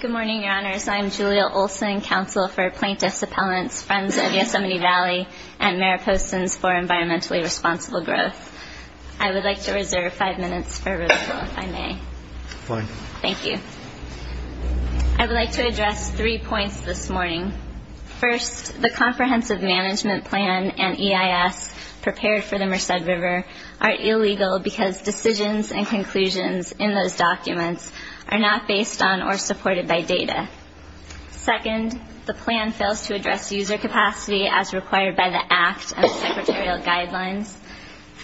Good morning, Your Honors. I am Julia Olson, Counsel for Plaintiffs' Appellants, Friends of Yosemite Valley, and Mayor Poston's for Environmentally Responsible Growth. I would like to reserve five minutes for rebuttal, if I may. Fine. Thank you. I would like to address three points this morning. First, the Comprehensive Management Plan and EIS prepared for the Merced River are illegal because decisions and conclusions in those documents are not based on or supported by data. Second, the plan fails to address user capacity as required by the Act and Secretarial Guidelines.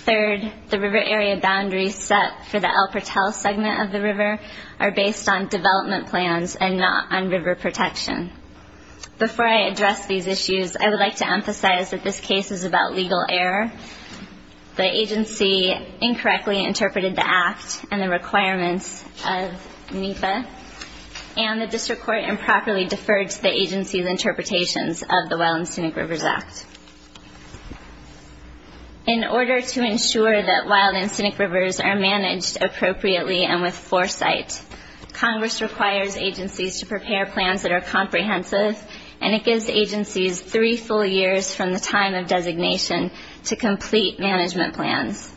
Third, the river area boundaries set for the El Pertel segment of the river are based on development plans and not on river protection. Before I address these issues, I would like to emphasize that this case is about legal error. The agency incorrectly interpreted the Act and the requirements of NEPA, and the District Court improperly deferred to the agency's interpretations of the Wild and Scenic Rivers Act. In order to ensure that wild and scenic rivers are managed appropriately and with foresight, Congress requires agencies to prepare plans that are comprehensive, and it gives agencies three full years from the time of designation to complete management plans.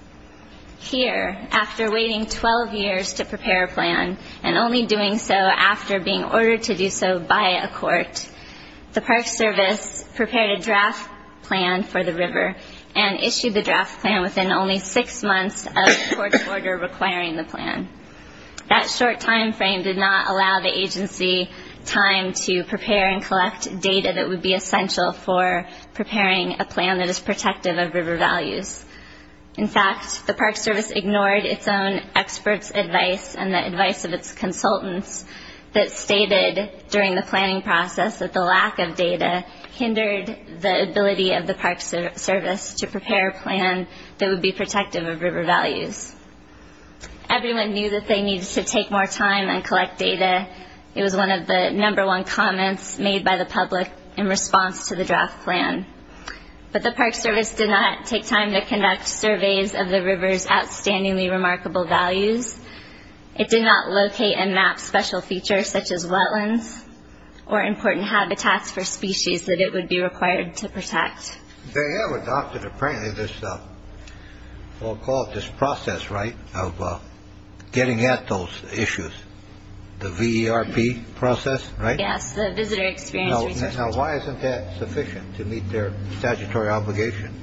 Here, after waiting 12 years to prepare a plan, and only doing so after being ordered to do so by a court, the Park Service prepared a draft plan for the river and issued the draft plan within only six months of the court's order requiring the plan. That short time frame did not allow the agency time to prepare and collect data that would be essential for preparing a plan that is protective of river values. In fact, the Park Service ignored its own experts' advice and the advice of its consultants that stated during the planning process that the lack of data hindered the ability of the Park Service to prepare a plan that would be protective of river values. Everyone knew that they needed to take more time and collect data. It was one of the number one comments made by the public in response to the draft plan. But the Park Service did not take time to conduct surveys of the river's outstandingly remarkable values. It did not locate and map special features such as wetlands or important habitats They have adopted, apparently, this process, right, of getting at those issues. The VERP process, right? Yes, the Visitor Experience Research Project. Now, why isn't that sufficient to meet their statutory obligation?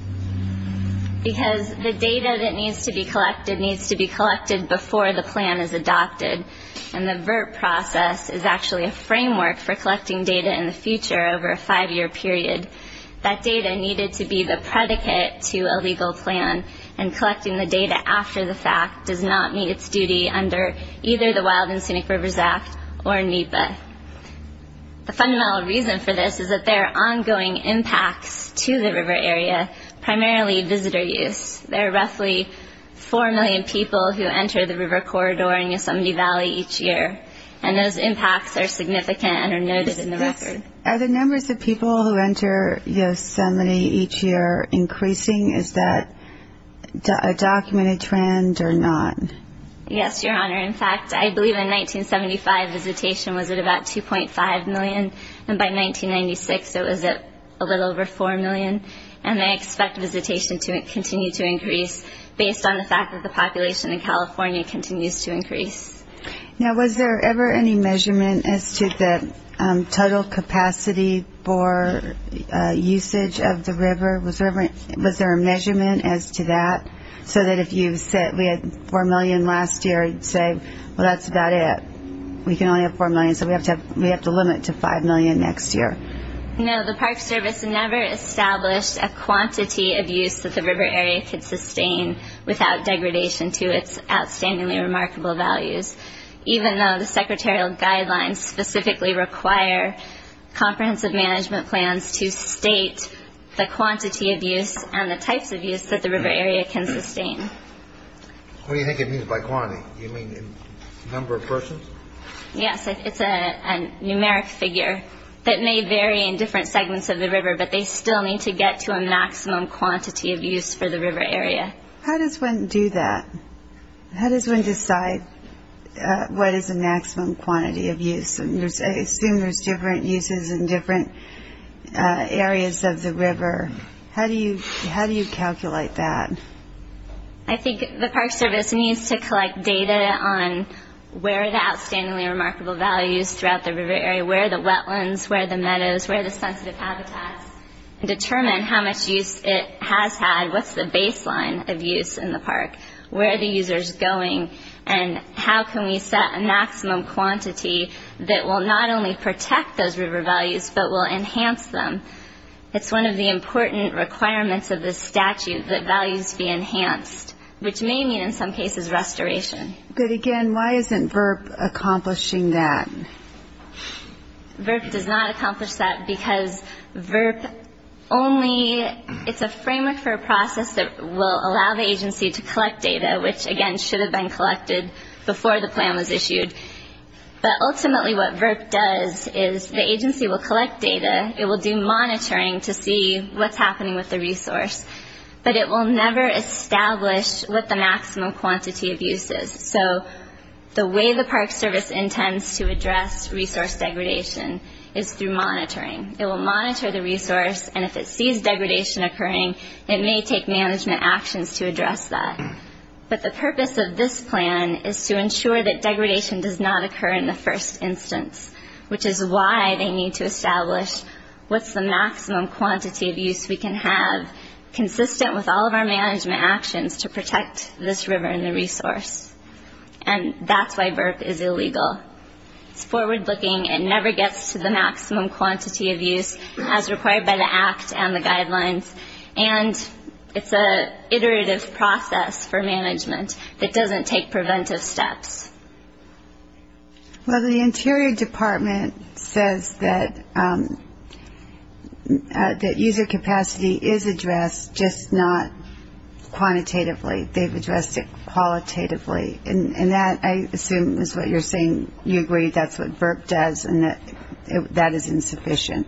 Because the data that needs to be collected needs to be collected before the plan is adopted. And the VERP process is actually a framework for collecting data in the future over a five year period. That data needed to be the predicate to a legal plan and collecting the data after the fact does not meet its duty under either the Wild and Scenic Rivers Act or NEPA. The fundamental reason for this is that there are ongoing impacts to the river area, primarily visitor use. There are roughly four million people who enter the river corridor in Yosemite Valley each year. And those impacts are significant and are noted in the record. Are the numbers of people who enter Yosemite each year increasing? Is that a documented trend or not? Yes, Your Honor. In fact, I believe in 1975 visitation was at about 2.5 million. And by 1996 it was at a little over 4 million. And I expect visitation to continue to increase based on the fact that the population in California continues to increase. Now, was there ever any measurement as to the total capacity for usage of the river? Was there a measurement as to that? So that if you said we had 4 million last year, you'd say, well, that's about it. We can only have 4 million. So we have to limit to 5 million next year. No, the Park Service never established a quantity of use that the river area could sustain without degradation to its outstandingly remarkable values. Even though the secretarial guidelines specifically require comprehensive management plans to state the quantity of use and the types of use that the river area can sustain. What do you think it means by quantity? Do you mean in number of persons? Yes, it's a numeric figure that may vary in different segments of the river, but they still need to get to a maximum quantity of use for the river area. How does one do that? How does one decide what is the maximum quantity of use? I assume there's different uses in different areas of the river. How do you calculate that? I think the Park Service needs to collect data on where the outstandingly remarkable values throughout the river area, where the wetlands, where the meadows, where the sensitive habitats, and determine how much use it has had, what's the baseline of use in the park, where are the users going, and how can we set a maximum quantity that will not only protect those river values, but will enhance them. It's one of the important requirements of this statute that values be enhanced, which may mean in some cases restoration. But again, why isn't VRP accomplishing that? VRP does not accomplish that because VRP only, it's a framework for a process that will allow the agency to collect data, which again should have been collected before the plan was issued. But ultimately what VRP does is the agency will collect data, it will do monitoring to see what's happening with the resource, but it will never establish what the maximum quantity of use is. So the way the Park Service intends to address resource degradation is through monitoring. It will monitor the resource, and if it sees degradation occurring, it may take management actions to address that. But the purpose of this plan is to ensure that degradation does not occur in the first instance, which is why they need to establish what's the maximum quantity of use we can have, consistent with all of our requirements, this river and the resource. And that's why VRP is illegal. It's forward looking, it never gets to the maximum quantity of use as required by the Act and the guidelines, and it's an iterative process for management that doesn't take preventive steps. Well, the Interior Department says that user capacity is addressed, just not quantitatively, they've addressed it qualitatively. And that, I assume, is what you're saying, you agree that's what VRP does and that that is insufficient.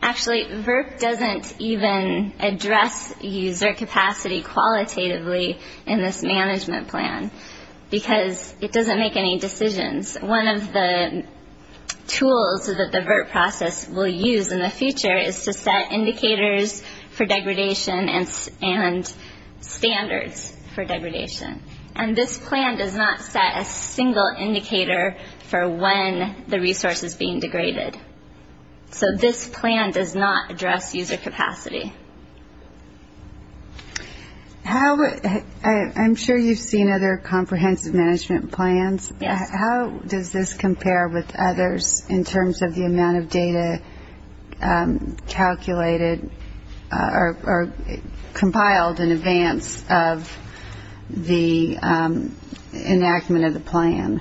Actually, VRP doesn't even address user capacity qualitatively in this management plan, because it doesn't make any decisions. One of the tools that the VRP process will use in the standards for degradation. And this plan does not set a single indicator for when the resource is being degraded. So this plan does not address user capacity. How, I'm sure you've seen other comprehensive management plans, how does this compare with others in terms of the amount of data calculated, or compiled in advance of user capacity? In terms of the enactment of the plan?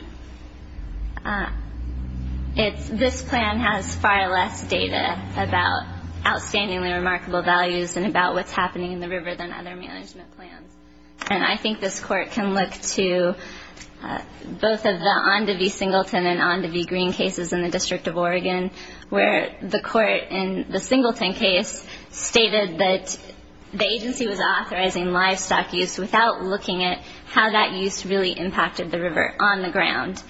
This plan has far less data about outstandingly remarkable values and about what's happening in the river than other management plans. And I think this court can look to both of the Ondevie Singleton and Ondevie Green cases in the District of Oregon, where the court in the Singleton case stated that the agency was authorizing livestock use without looking at how that use really impacted the river on the ground.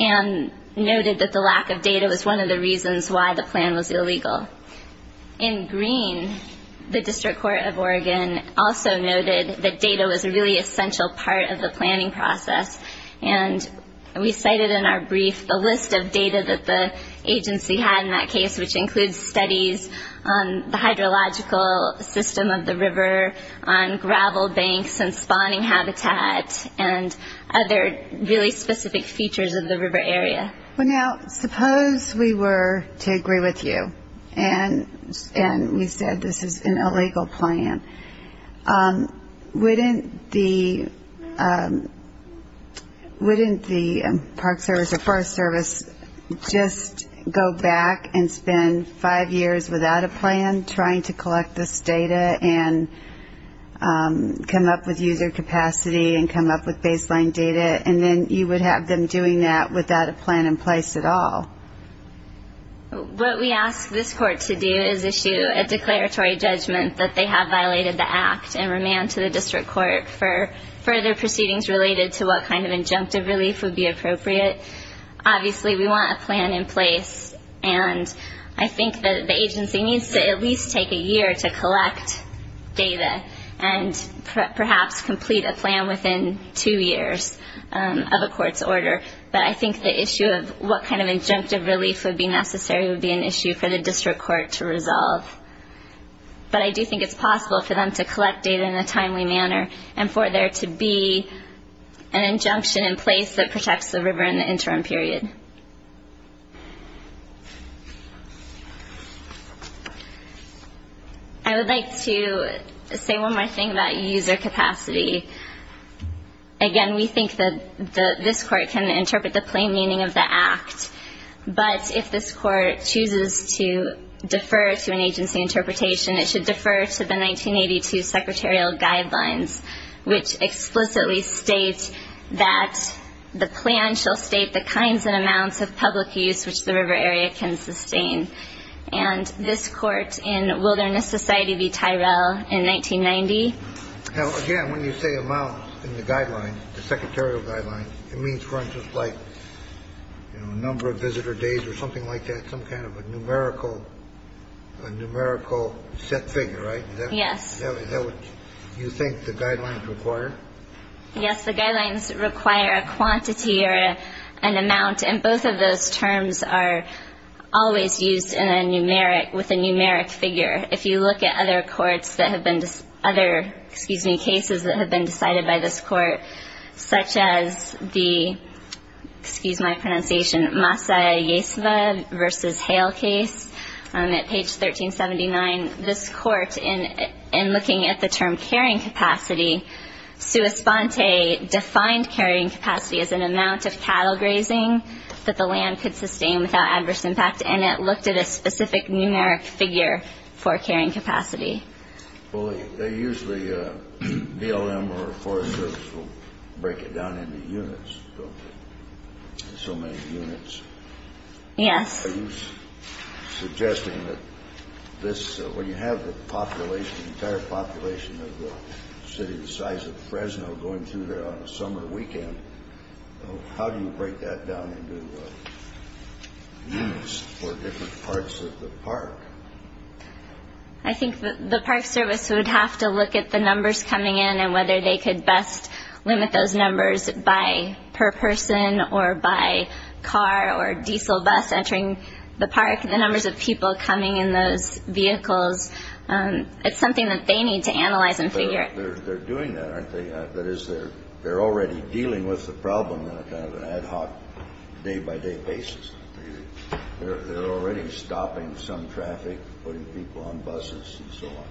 And noted that the lack of data was one of the reasons why the plan was illegal. In Green, the District Court of Oregon also noted that data was a really essential part of the planning process. And we cited in our plan the hydrological system of the river on gravel banks and spawning habitat and other really specific features of the river area. Well now, suppose we were to agree with you and we said this is an illegal plan. Wouldn't the agency have a plan trying to collect this data and come up with user capacity and come up with baseline data? And then you would have them doing that without a plan in place at all. What we ask this court to do is issue a declaratory judgment that they have violated the act and remand to the District Court for further proceedings related to what kind of injunctive relief would be necessary. And that would at least take a year to collect data and perhaps complete a plan within two years of a court's order. But I think the issue of what kind of injunctive relief would be necessary would be an issue for the District Court to resolve. But I do think it's possible for them to collect data in a timely manner and for there to be an injunction in place that protects the river in the interim period. I would like to say one more thing about user capacity. Again, we think that this court can interpret the plain meaning of the act. But if this court chooses to defer to an agency interpretation, it should defer to the 1982 Secretarial Guidelines, which explicitly states that the plan shall state the kinds of amounts of public use which the river area can sustain. And this court in Wilderness Society v. Tyrell in 1990... Now, again, when you say amounts in the Guidelines, the Secretarial Guidelines, it means, for instance, like a number of visitor days or something like that, some kind of a numerical set figure, right? Yes. Do you think the Guidelines require... Yes, the Guidelines require a quantity or an amount, and both of those terms are always used in a numeric, with a numeric figure. If you look at other courts that have been, other, excuse me, cases that have been decided by this court, such as the, excuse my pronunciation, Masaya Yeseva v. Hale case at page 1379, this court, in looking at the term carrying capacity, sua sponte defined carrying capacity as an amount of cattle grazing that the land could sustain without adverse impact, and it looked at a specific numeric figure for carrying capacity. Well, they usually, DLM or Forest Service will break it down into units, don't they? So many units. Yes. I think the Park Service would have to look at the numbers coming in and whether they could best limit those numbers by per person or by car or diesel bus entering the park, the numbers of people coming in those vehicles. It's something that they need to analyze and figure out. They're doing that, aren't they? That is, they're already dealing with the problem on a kind of an ad hoc, day-by-day basis. They're already stopping some traffic, putting people on buses and so on.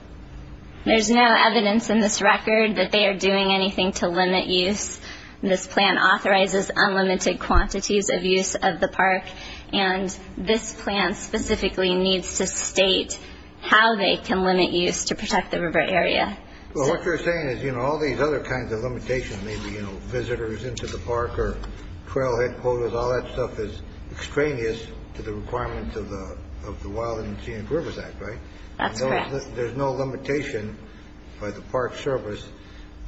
There's no evidence in this record that they are doing anything to limit use. This plan authorizes unlimited quantities of use of the park. And this plan specifically needs to state how they can limit use to protect the river area. Well, what you're saying is, you know, all these other kinds of limitations, maybe, you know, visitors into the park or trail headquarters, all that stuff is extraneous to the requirements of the of the Wild and Enchanted Rivers Act, right? That's correct. There's no limitation by the Park Service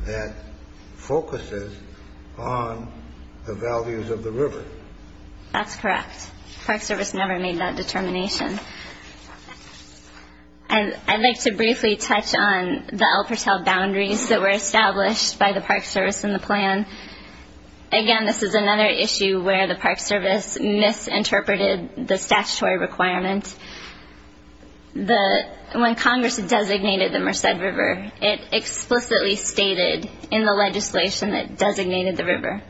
that focuses on the values of the river. That's correct. Park Service never made that determination. And I'd like to briefly touch on the El Patel boundaries that were established by the Park Service in the plan. Again, this is another issue where the Park Service misinterpreted the statutory requirement. When Congress designated the Merced River, it explicitly stated in the legislation that designated the river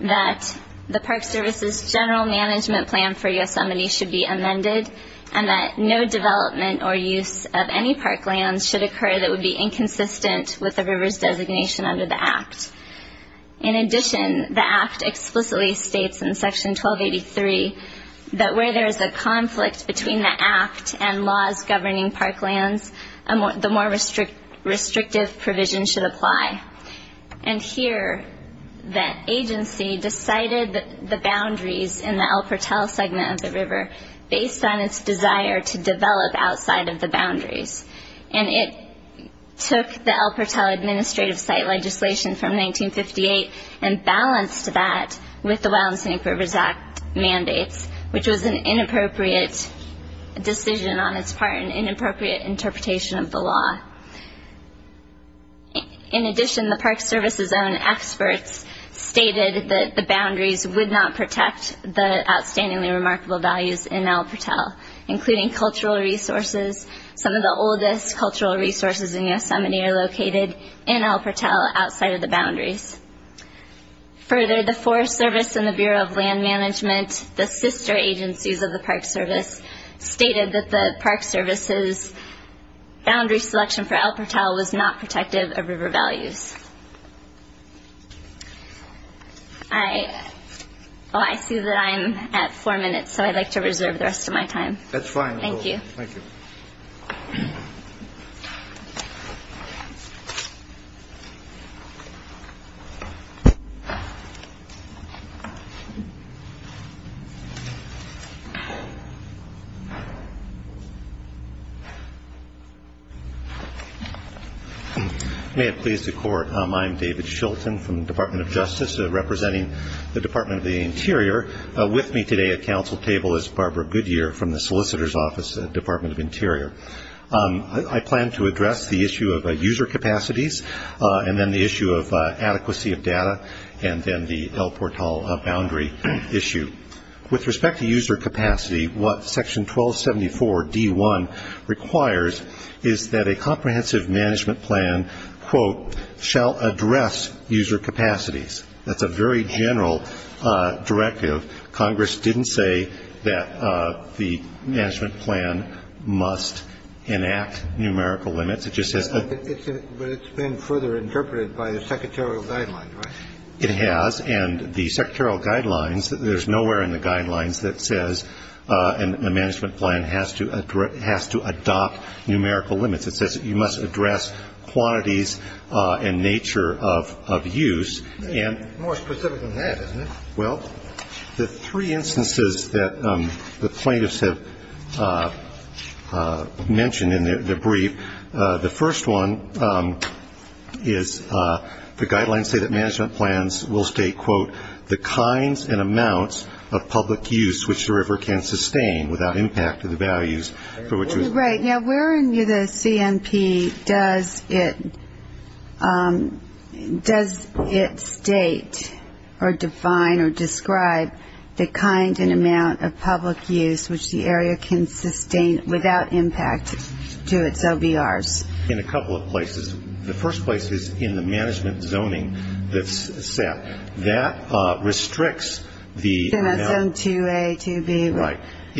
that the Park Service's general management plan for Yosemite should be amended and that no development or use of any park lands should occur that would be inconsistent with the river's designation under the Act. In addition, the Act explicitly states in Section 1283 that where there is a conflict between the Act and laws governing park lands, the more restrictive provision should apply. And here, the agency decided the boundaries in the El Patel segment of the river based on its desire to develop outside of the boundaries. And it took the El Patel Administrative Site legislation from 1958 and balanced that with the Wild and Scenic Rivers Act mandates, which was an inappropriate decision on its part and an inappropriate interpretation of the law. In addition, the Park Service's own experts stated that the boundaries would not protect the outstandingly remarkable values in El Patel, including cultural resources. Some of the oldest cultural resources in Yosemite are located in El Patel outside of the boundaries. Further, the Forest Service and the Bureau of Land Management, the sister agencies of the Park Service, stated that the Park Service's boundary selection for El Patel was not protective of river values. I see that I'm at four minutes, so I'd like to reserve the rest of my time. That's fine. May it please the Court, I'm David Shilton from the Department of Justice, representing the Department of the Solicitor's Office, Department of Interior. I plan to address the issue of user capacities and then the issue of adequacy of data and then the El Patel boundary issue. With respect to user capacity, what Section 1274 D.1 requires is that a comprehensive management plan, quote, shall address user capacities. That's a very general directive. Congress didn't say that the management plan must enact numerical limits. It just says that But it's been further interpreted by the secretarial guidelines, right? It has, and the secretarial guidelines, there's nowhere in the guidelines that says a management plan has to It says that you must address quantities and nature of use. More specific than that, isn't it? Well, the three instances that the plaintiffs have mentioned in their brief, the first one is the guidelines say that management plans will state, quote, the kinds and amounts of public use which the river can sustain without impact to the values for which it was built. Right. Now, where in the CMP does it state or define or describe the kind and amount of public use which the area can sustain without impact to its OBRs? In a couple of places. The first place is in the management zoning that's set. That restricts the amount.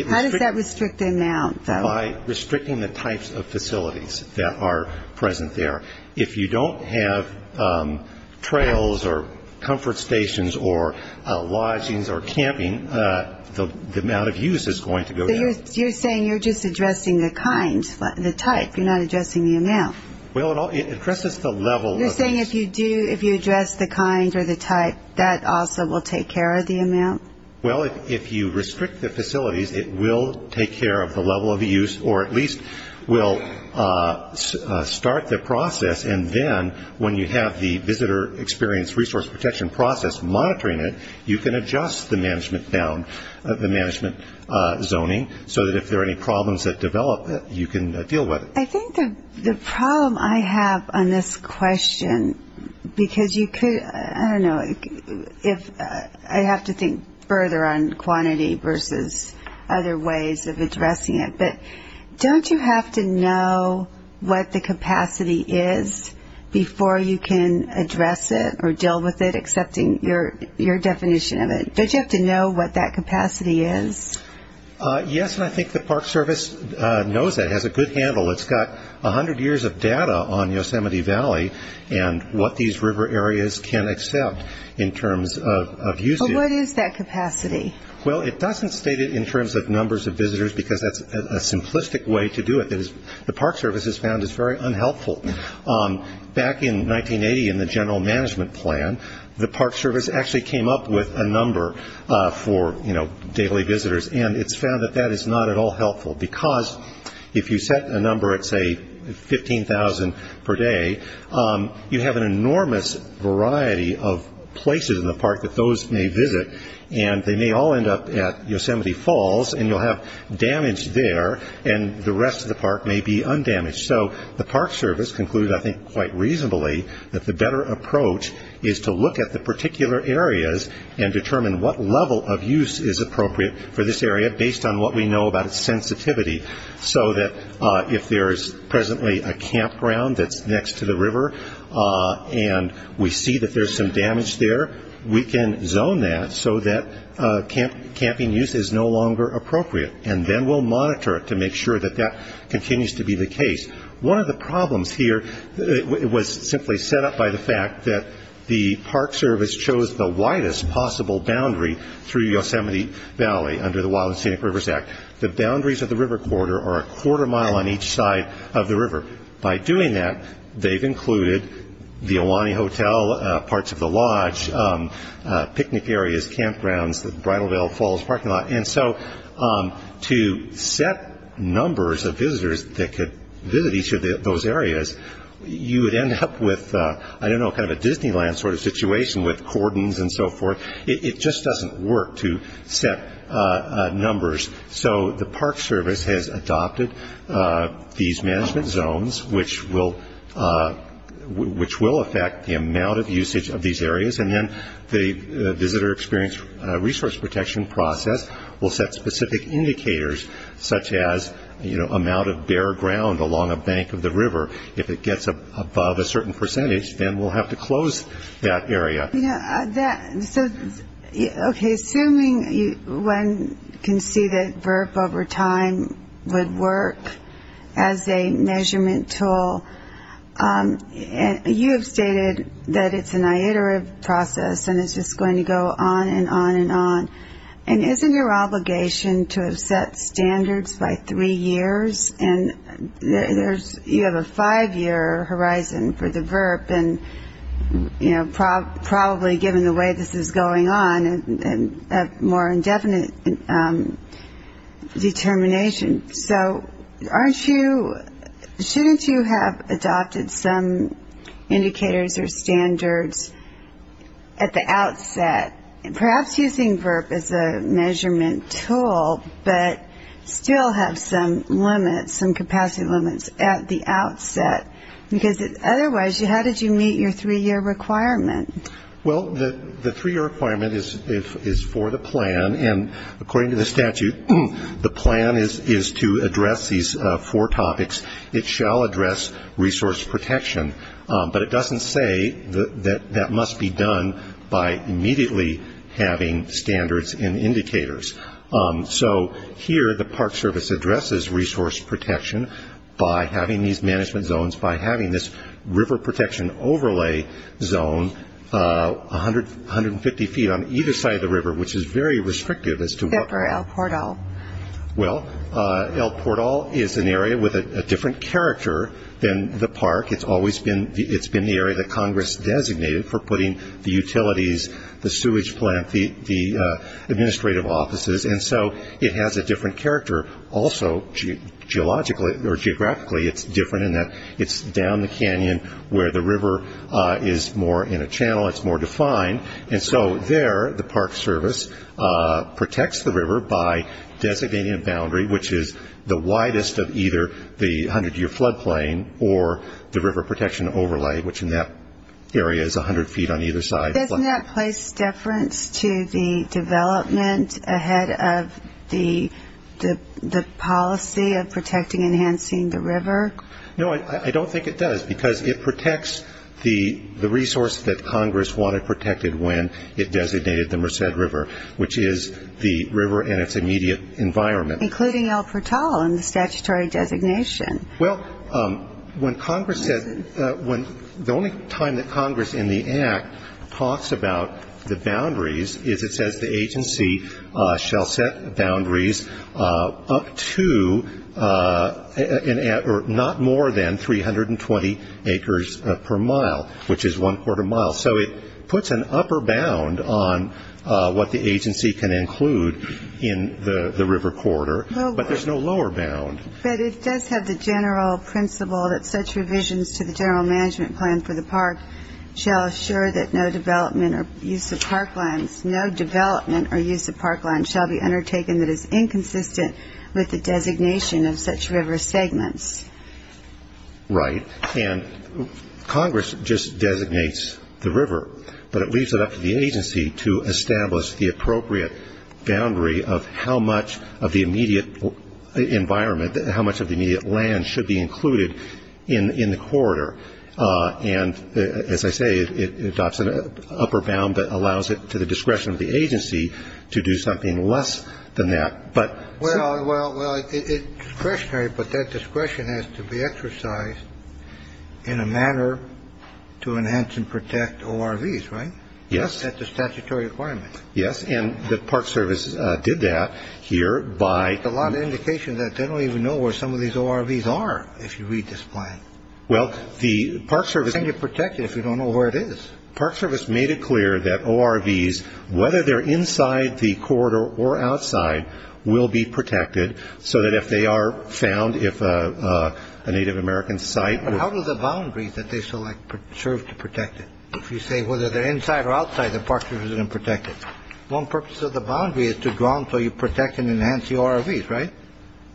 How does that restrict the amount, though? By restricting the types of facilities that are present there. If you don't have trails or comfort stations or lodgings or camping, the amount of use is going to go down. You're saying you're just addressing the kind, the type. You're not addressing the amount. Well, it addresses the level of use. You're saying if you address the kind or the type, that also will take care of the amount? Well, if you restrict the facilities, it will take care of the level of use or at least will start the process and then when you have the visitor experience resource protection process monitoring it, you can adjust the management zoning so that if there are any problems that develop, you can deal with it. I think the problem I have on this question, because you could, I don't know, if I have to think further on quantity versus other ways of addressing it, but don't you have to know what the capacity is before you can address it or deal with it, accepting your definition of it? Don't you have to know what that capacity is? Yes, and I think the Park Service knows that, has a good handle. It's got 100 years of data on Yosemite Valley and what these river areas can accept in terms of usage. What is that capacity? Well, it doesn't state it in terms of numbers of visitors because that's a simplistic way to do it. The Park Service has found it's very unhelpful. Back in 1980 in the general management plan, the Park Service actually came up with a number for daily visitors and it's found that that is not at all helpful because if you set a number at say 15,000 per day, you have an enormous variety of places in the park that those may visit and they may all end up at Yosemite Falls and you'll have damage there and the rest of the park may be undamaged. So the Park Service concluded, I think quite reasonably, that the better approach is to look at the particular areas and determine what level of use is appropriate for this area based on what we know about its sensitivity so that if there is presently a campground that's next to the river and we see that there's some damage there, we can zone that so that camping use is no longer appropriate and then we'll monitor it to make sure that that continues to be the case. One of the problems here was simply set up by the fact that the Park Service chose the widest possible boundary through Yosemite Valley under the Wild and Scenic Rivers Act. The boundaries of the river corridor are a quarter mile on each side of the river. By doing that, they've included the Iwani Hotel, parts of the lodge, picnic areas, campgrounds, Bridal Veil Falls parking lot, and so to set numbers of visitors that could visit each of those areas, you would end up with, I don't know, kind of a Disneyland sort of situation with cordons and so forth. It just doesn't work to set numbers, so the Park Service has adopted these management zones, which will affect the amount of usage of these areas, and then the Visitor Experience Resource Center, which is a resource protection process, will set specific indicators such as amount of bare ground along a bank of the river. If it gets above a certain percentage, then we'll have to close that area. Okay, assuming one can see that VERP over time would work as a measurement tool, you have stated that it's an iterative process and it's just going to go on and on and on. And isn't your obligation to have set standards by three years? And you have a five-year horizon for the VERP, and, you know, probably given the way this is going on, a more indefinite determination. So aren't you, shouldn't you have adopted some indicators or standards at the outset, perhaps using VERP as a measurement tool, but still have some limits, some capacity limits at the outset? Because otherwise, how did you meet your three-year requirement? Well, the three-year requirement is for the plan, and according to the statute, the plan is to address these four topics. It shall address resource protection, but it doesn't say that that must be done by immediately having standards and indicators. So here, the Park Service addresses resource protection by having these management zones, by having this river protection overlay zone 150 feet on either side of the river, which is very restrictive as to what... Pepper El Portal. Well, El Portal is an area with a different character than the park. It's always been the area that Congress designated for putting the utilities, the sewage plant, the administrative offices, and so it has a different character also geographically. It's different in that it's down the canyon where the river is more in a channel, it's more defined. And so there, the Park Service protects the river by designating a boundary, which is the widest of either the 100-year floodplain or the river protection overlay, which in that area is 100 feet on either side. Doesn't that place deference to the development ahead of the policy of protecting and enhancing the river? No, I don't think it does, because it protects the resource that Congress wanted protected when it designated the Merced River, which is the river and its immediate environment. Including El Portal in the statutory designation. Well, when Congress says the only time that Congress in the Act talks about the boundaries is it says the agency shall set boundaries up to or not more than 320 acres per mile, which is one-quarter mile. So it puts an upper bound on what the agency can include in the river corridor, but there's no lower bound. But it does have the general principle that such revisions to the general management plan for the park shall assure that no development or use of park lands shall be undertaken that is inconsistent with the designation of such river segments. Right, and Congress just designates the river, but it leaves it up to the agency to establish the appropriate boundary of how much of the immediate environment, how much of the immediate land should be included in the corridor. And as I say, it adopts an upper bound that allows it to the discretion of the agency to do something less than that. Well, it's discretionary, but that discretion has to be exercised in a manner to enhance and protect ORVs, right? Yes, that's a statutory requirement. Yes, and the Park Service did that here by... A lot of indications that they don't even know where some of these ORVs are, if you read this plan. Well, the Park Service... They can't protect it if you don't know where it is. Park Service made it clear that ORVs, whether they're inside the corridor or outside, will be protected so that if they are found, if a Native American site... How do the boundaries that they select serve to protect it? If you say whether they're inside or outside, the Park Service is going to protect it. One purpose of the boundary is to drown so you protect and enhance the ORVs, right?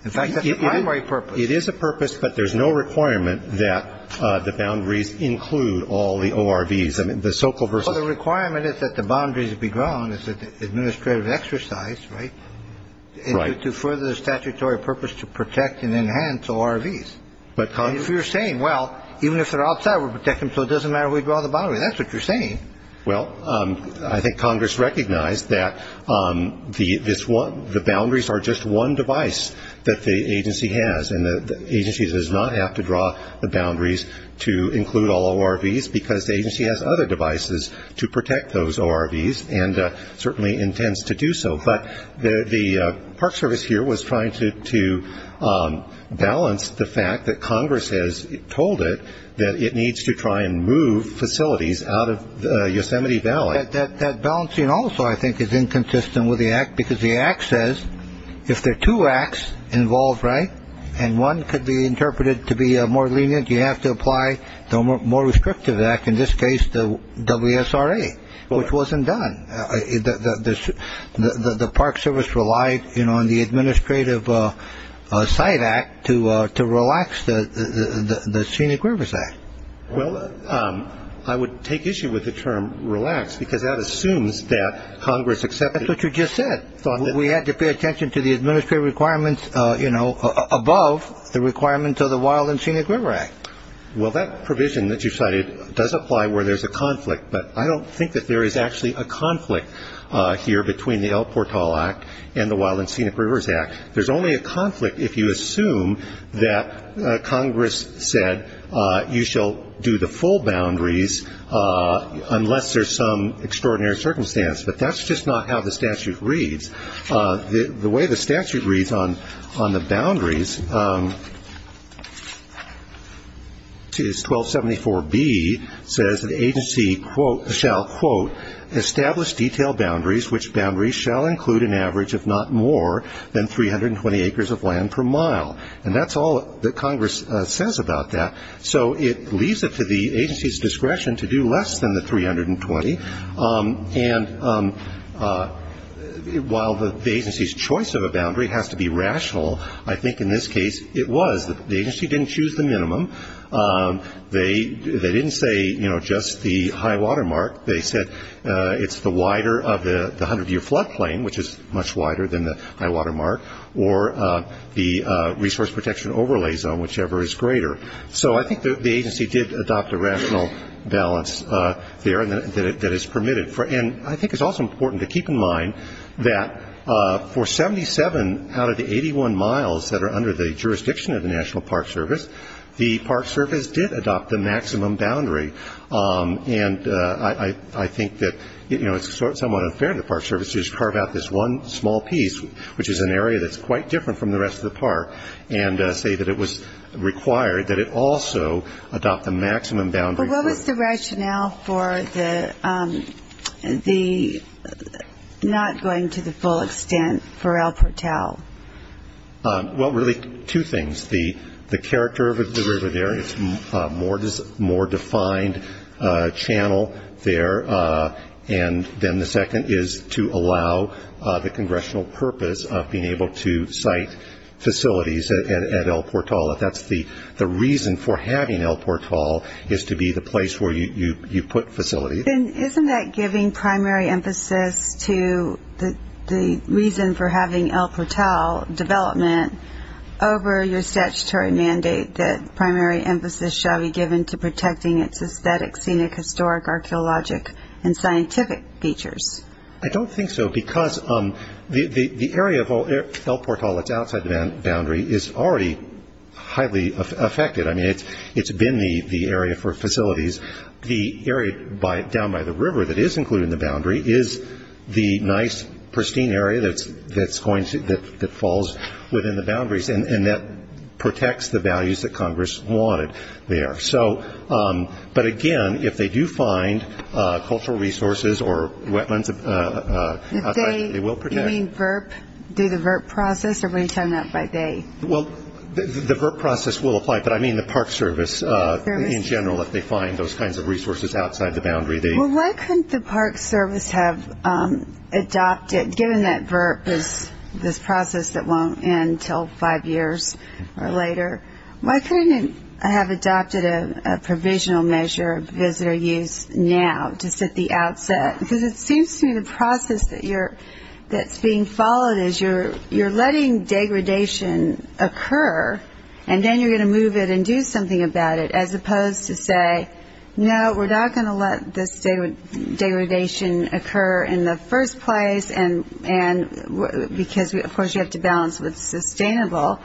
In fact, that's the primary purpose. It is a purpose, but there's no requirement that the boundaries include all the ORVs, the so-called... Well, the requirement is that the boundaries be drawn as an administrative exercise, right? Right. But if you're saying, well, even if they're outside, we'll protect them so it doesn't matter who draws the boundaries, that's what you're saying. Well, I think Congress recognized that the boundaries are just one device that the agency has, and the agency does not have to draw the boundaries to include all ORVs because the agency has other devices to protect those ORVs and certainly intends to do so. I think Congress here was trying to balance the fact that Congress has told it that it needs to try and move facilities out of Yosemite Valley. That balancing also, I think, is inconsistent with the Act because the Act says if there are two Acts involved, right, and one could be interpreted to be more lenient, you have to apply the more restrictive Act, in this case the WSRA, which wasn't done. The Park Service relied on the Administrative Site Act to relax the Scenic Rivers Act. Well, I would take issue with the term relax because that assumes that Congress accepted it. That's what you just said. We had to pay attention to the administrative requirements above the requirements of the Wild and Scenic River Act. Well, that provision that you cited does apply where there's a conflict, but I don't think that there is actually a conflict here between the El Portal Act and the Wild and Scenic Rivers Act. There's only a conflict if you assume that Congress said you shall do the full boundaries unless there's some extraordinary circumstance, but that's just not how the statute reads. The way the statute reads on the boundaries is 1274B says the agency, quote, shall, quote, establish detailed boundaries which boundaries shall include an average of not more than 320 acres of land per mile. And that's all that Congress says about that. So it leaves it to the agency's discretion to do less than the 320. And while the agency's choice of a boundary has to be rational, I think in this case it was. The agency didn't choose the minimum. They didn't say, you know, just the high water mark. They said it's the wider of the 100-year flood plain, which is much wider than the high water mark, or the resource protection overlay zone, whichever is greater. So I think the agency did adopt a rational balance there that is permitted. And I think it's also important to keep in mind that for 77 out of the 81 miles that are under the jurisdiction of the National Park Service, the Park Service did adopt the maximum boundary. And I think that, you know, it's somewhat unfair to the Park Service to just carve out this one small piece, which is an area that's quite different from the rest of the park, and say that it was required that it also adopt the maximum boundary. But what was the rationale for the not going to the full extent for El Portal? Well, really two things. The character of the river there, it's a more defined channel there. And then the second is to allow the congressional purpose of being able to site facilities at El Portal. If that's the reason for having El Portal is to be the place where you put facilities. Then isn't that giving primary emphasis to the reason for having El Portal development over your statutory mandate that primary emphasis shall be given to protecting its aesthetic, scenic, historic, archeologic, and scientific features? I don't think so, because the area of El Portal that's outside the boundary is already highly affected. I mean, it's been the area for facilities. The area down by the river that is included in the boundary is the nice, pristine area that falls within the boundaries, and that protects the values that Congress wanted there. But again, if they do find cultural resources or wetlands outside, they will protect. Do the VERP process, or will you tell me that by they? Well, the VERP process will apply, but I mean the Park Service in general, if they find those kinds of resources outside the boundary. Well, why couldn't the Park Service have adopted, given that VERP is this process that won't end until five years or later, why couldn't it have adopted a provisional measure of visitor use now, just at the outset? Because it seems to me the process that's being followed is you're letting degradation occur, and then you're going to move it and do something about it, as opposed to say, no, we're not going to let this degradation occur in the first place, because of course you have to balance what's sustainable,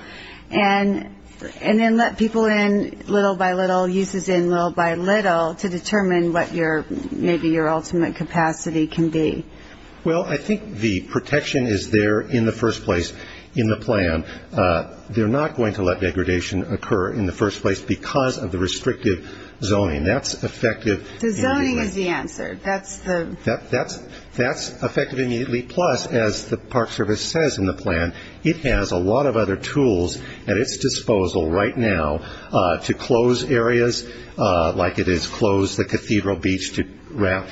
and then let people in little by little, uses in little by little, to determine what maybe your ultimate capacity can be. Well, I think the protection is there in the first place in the plan. They're not going to let degradation occur in the first place because of the restrictive zoning. That's effective. The zoning is the answer. That's effective immediately, plus, as the Park Service says in the plan, it has a lot of other tools at its disposal right now to close areas, like it has closed the Cathedral Beach to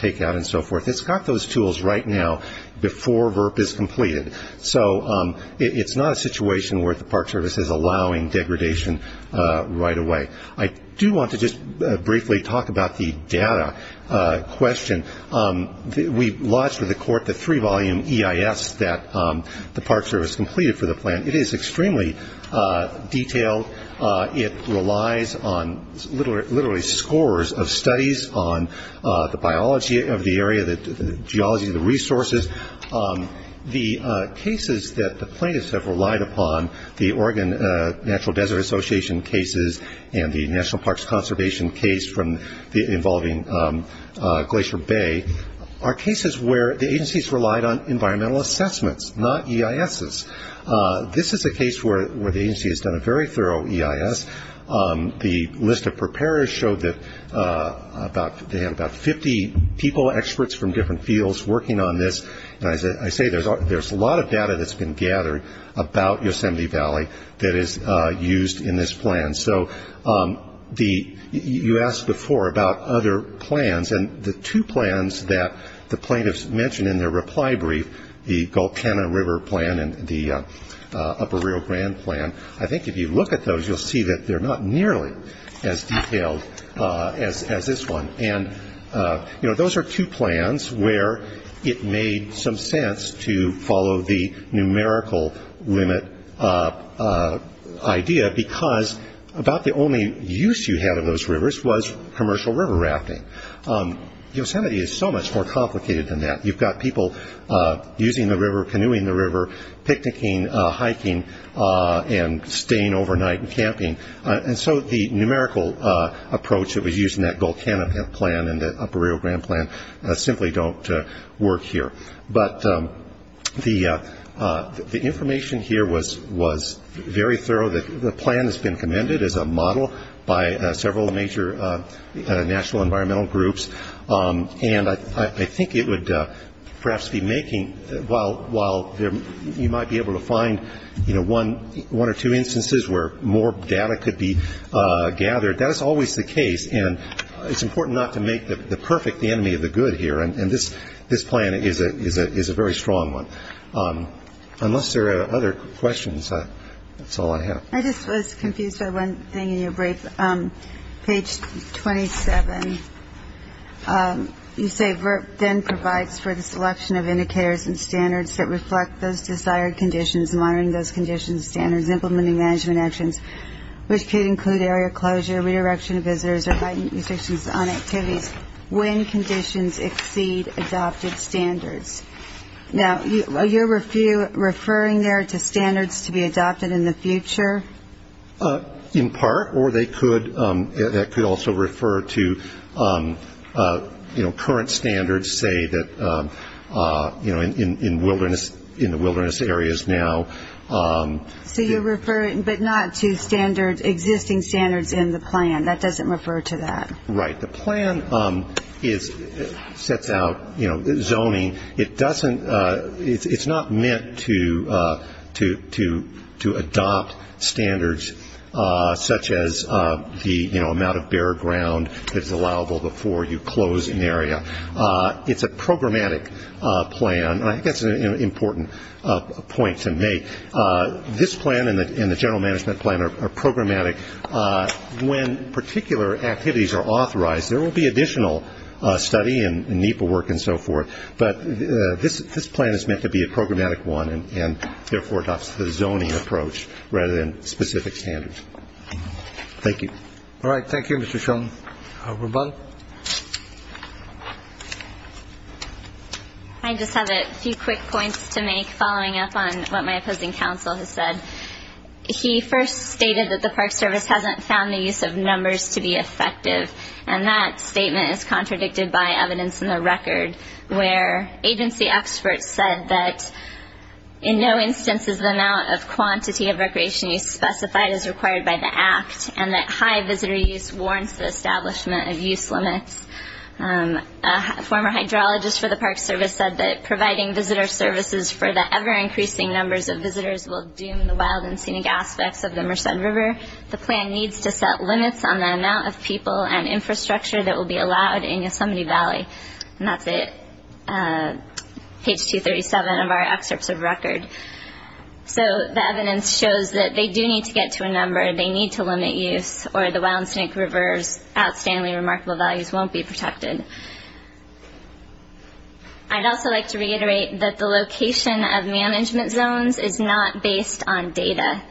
take out and so forth. It's got those tools right now before VERP is completed. So it's not a situation where the Park Service is allowing degradation right away. I do want to just briefly talk about the data question. We lodged with the court the three-volume EIS that the Park Service completed for the plan. It is extremely detailed. It relies on literally scores of studies on the biology of the area, the geology of the resources. The cases that the plaintiffs have relied upon, the Oregon Natural Desert Association cases and the National Parks Conservation case involving Glacier Bay, are cases where the agencies relied on environmental assessments, not EISs. This is a case where the agency has done a very thorough EIS. The list of preparers showed that they have about 50 people, experts from different fields working on this. I say there's a lot of data that's been gathered about Yosemite Valley that is used in this plan. So you asked before about other plans, and the two plans that the plaintiffs mentioned in their reply brief, the Gultana River plan and the Upper Rio Grande plan, I think if you look at those, you'll see that they're not nearly as detailed as this one. Those are two plans where it made some sense to follow the numerical limit idea because about the only use you had of those rivers was commercial river rafting. Yosemite is so much more complicated than that. You've got people using the river, canoeing the river, picnicking, hiking and staying overnight and camping. And so the numerical approach that was used in that Gultana plan and the Upper Rio Grande plan simply don't work here. But the information here was very thorough. The plan has been commended as a model by several major national environmental groups, and I think it would perhaps be making, while you might be able to find one or two instances where more data could be gathered, that is always the case. And it's important not to make the perfect the enemy of the good here, and this plan is a very strong one. Unless there are other questions, that's all I have. I just was confused by one thing in your brief. Page 27. You say VERP then provides for the selection of indicators and standards that reflect those desired conditions, monitoring those conditions, standards, implementing management actions, which could include area closure, re-erection of visitors, or heightened restrictions on activities when conditions exceed adopted standards. Now, are you referring there to standards to be adopted in the future? In part, or that could also refer to current standards, say, in the wilderness areas now. So you're referring, but not to existing standards in the plan. That doesn't refer to that. Right. The plan sets out zoning. It's not meant to adopt standards such as the amount of bare ground that is allowable before you close an area. It's a programmatic plan, and I think that's an important point to make. This plan and the general management plan are programmatic. When particular activities are authorized, there will be additional study and NEPA work and so forth, but this plan is meant to be a programmatic one, and therefore adopts the zoning approach rather than specific standards. Thank you. All right. Thank you, Mr. Shulman. Ruben. I just have a few quick points to make following up on what my opposing counsel has said. He first stated that the Park Service hasn't found the use of numbers to be effective, and that statement is contradicted by evidence in the record, where agency experts said that in no instance is the amount of quantity of recreation used specified as required by the Act, and that high visitor use warrants the establishment of use limits. A former hydrologist for the Park Service said that providing visitor services for the ever-increasing numbers of visitors will doom the wild and scenic aspects of the Merced River. The plan needs to set limits on the amount of people and infrastructure that will be allowed in Yosemite Valley, and that's at page 237 of our excerpts of record. So the evidence shows that they do need to get to a number, they need to limit use, or the wild and scenic river's outstandingly remarkable values won't be protected. I'd also like to reiterate that the location of management zones is not based on data.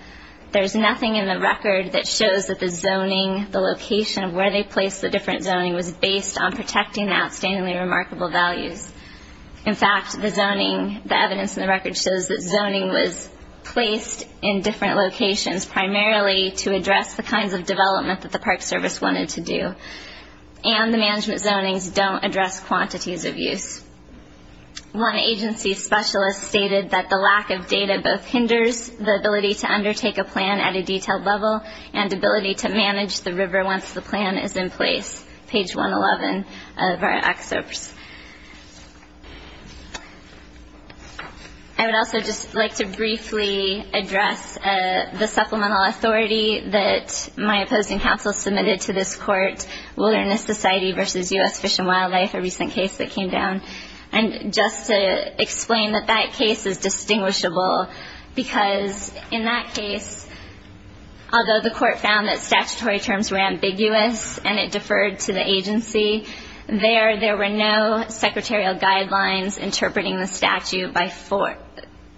There's nothing in the record that shows that the zoning, the location of where they placed the different zoning, was based on protecting the outstandingly remarkable values. In fact, the zoning, the evidence in the record shows that zoning was placed in different locations primarily to address the kinds of development that the Park Service wanted to do, and the management zonings don't address quantities of use. One agency specialist stated that the lack of data both hinders the ability to undertake a plan at a detailed level and ability to manage the river once the plan is in place, page 111 of our excerpts. I would also just like to briefly address the supplemental authority that my opposing counsel submitted to this court, wilderness society versus U.S. Fish and Wildlife, a recent case that came down, and just to explain that that case is distinguishable because in that case, although the court found that statutory terms were ambiguous and it deferred to the agency, there were no secretarial guidelines interpreting the statute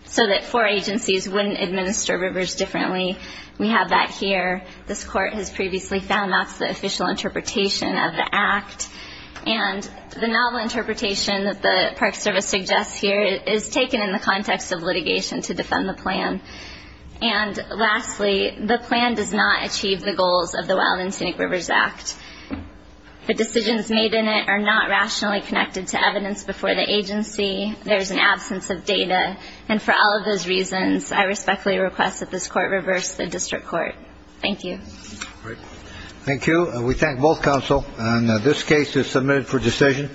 so that four agencies wouldn't administer rivers differently. We have that here. This court has previously found that's the official interpretation of the act, and the novel interpretation that the Park Service suggests here is taken in the context of litigation to defend the plan. And lastly, the plan does not achieve the goals of the Wildland Scenic Rivers Act. The decisions made in it are not rationally connected to evidence before the agency. There's an absence of data, and for all of those reasons, I respectfully request that this court reverse the district court. Thank you. Thank you. We thank both counsel. And this case is submitted for decision.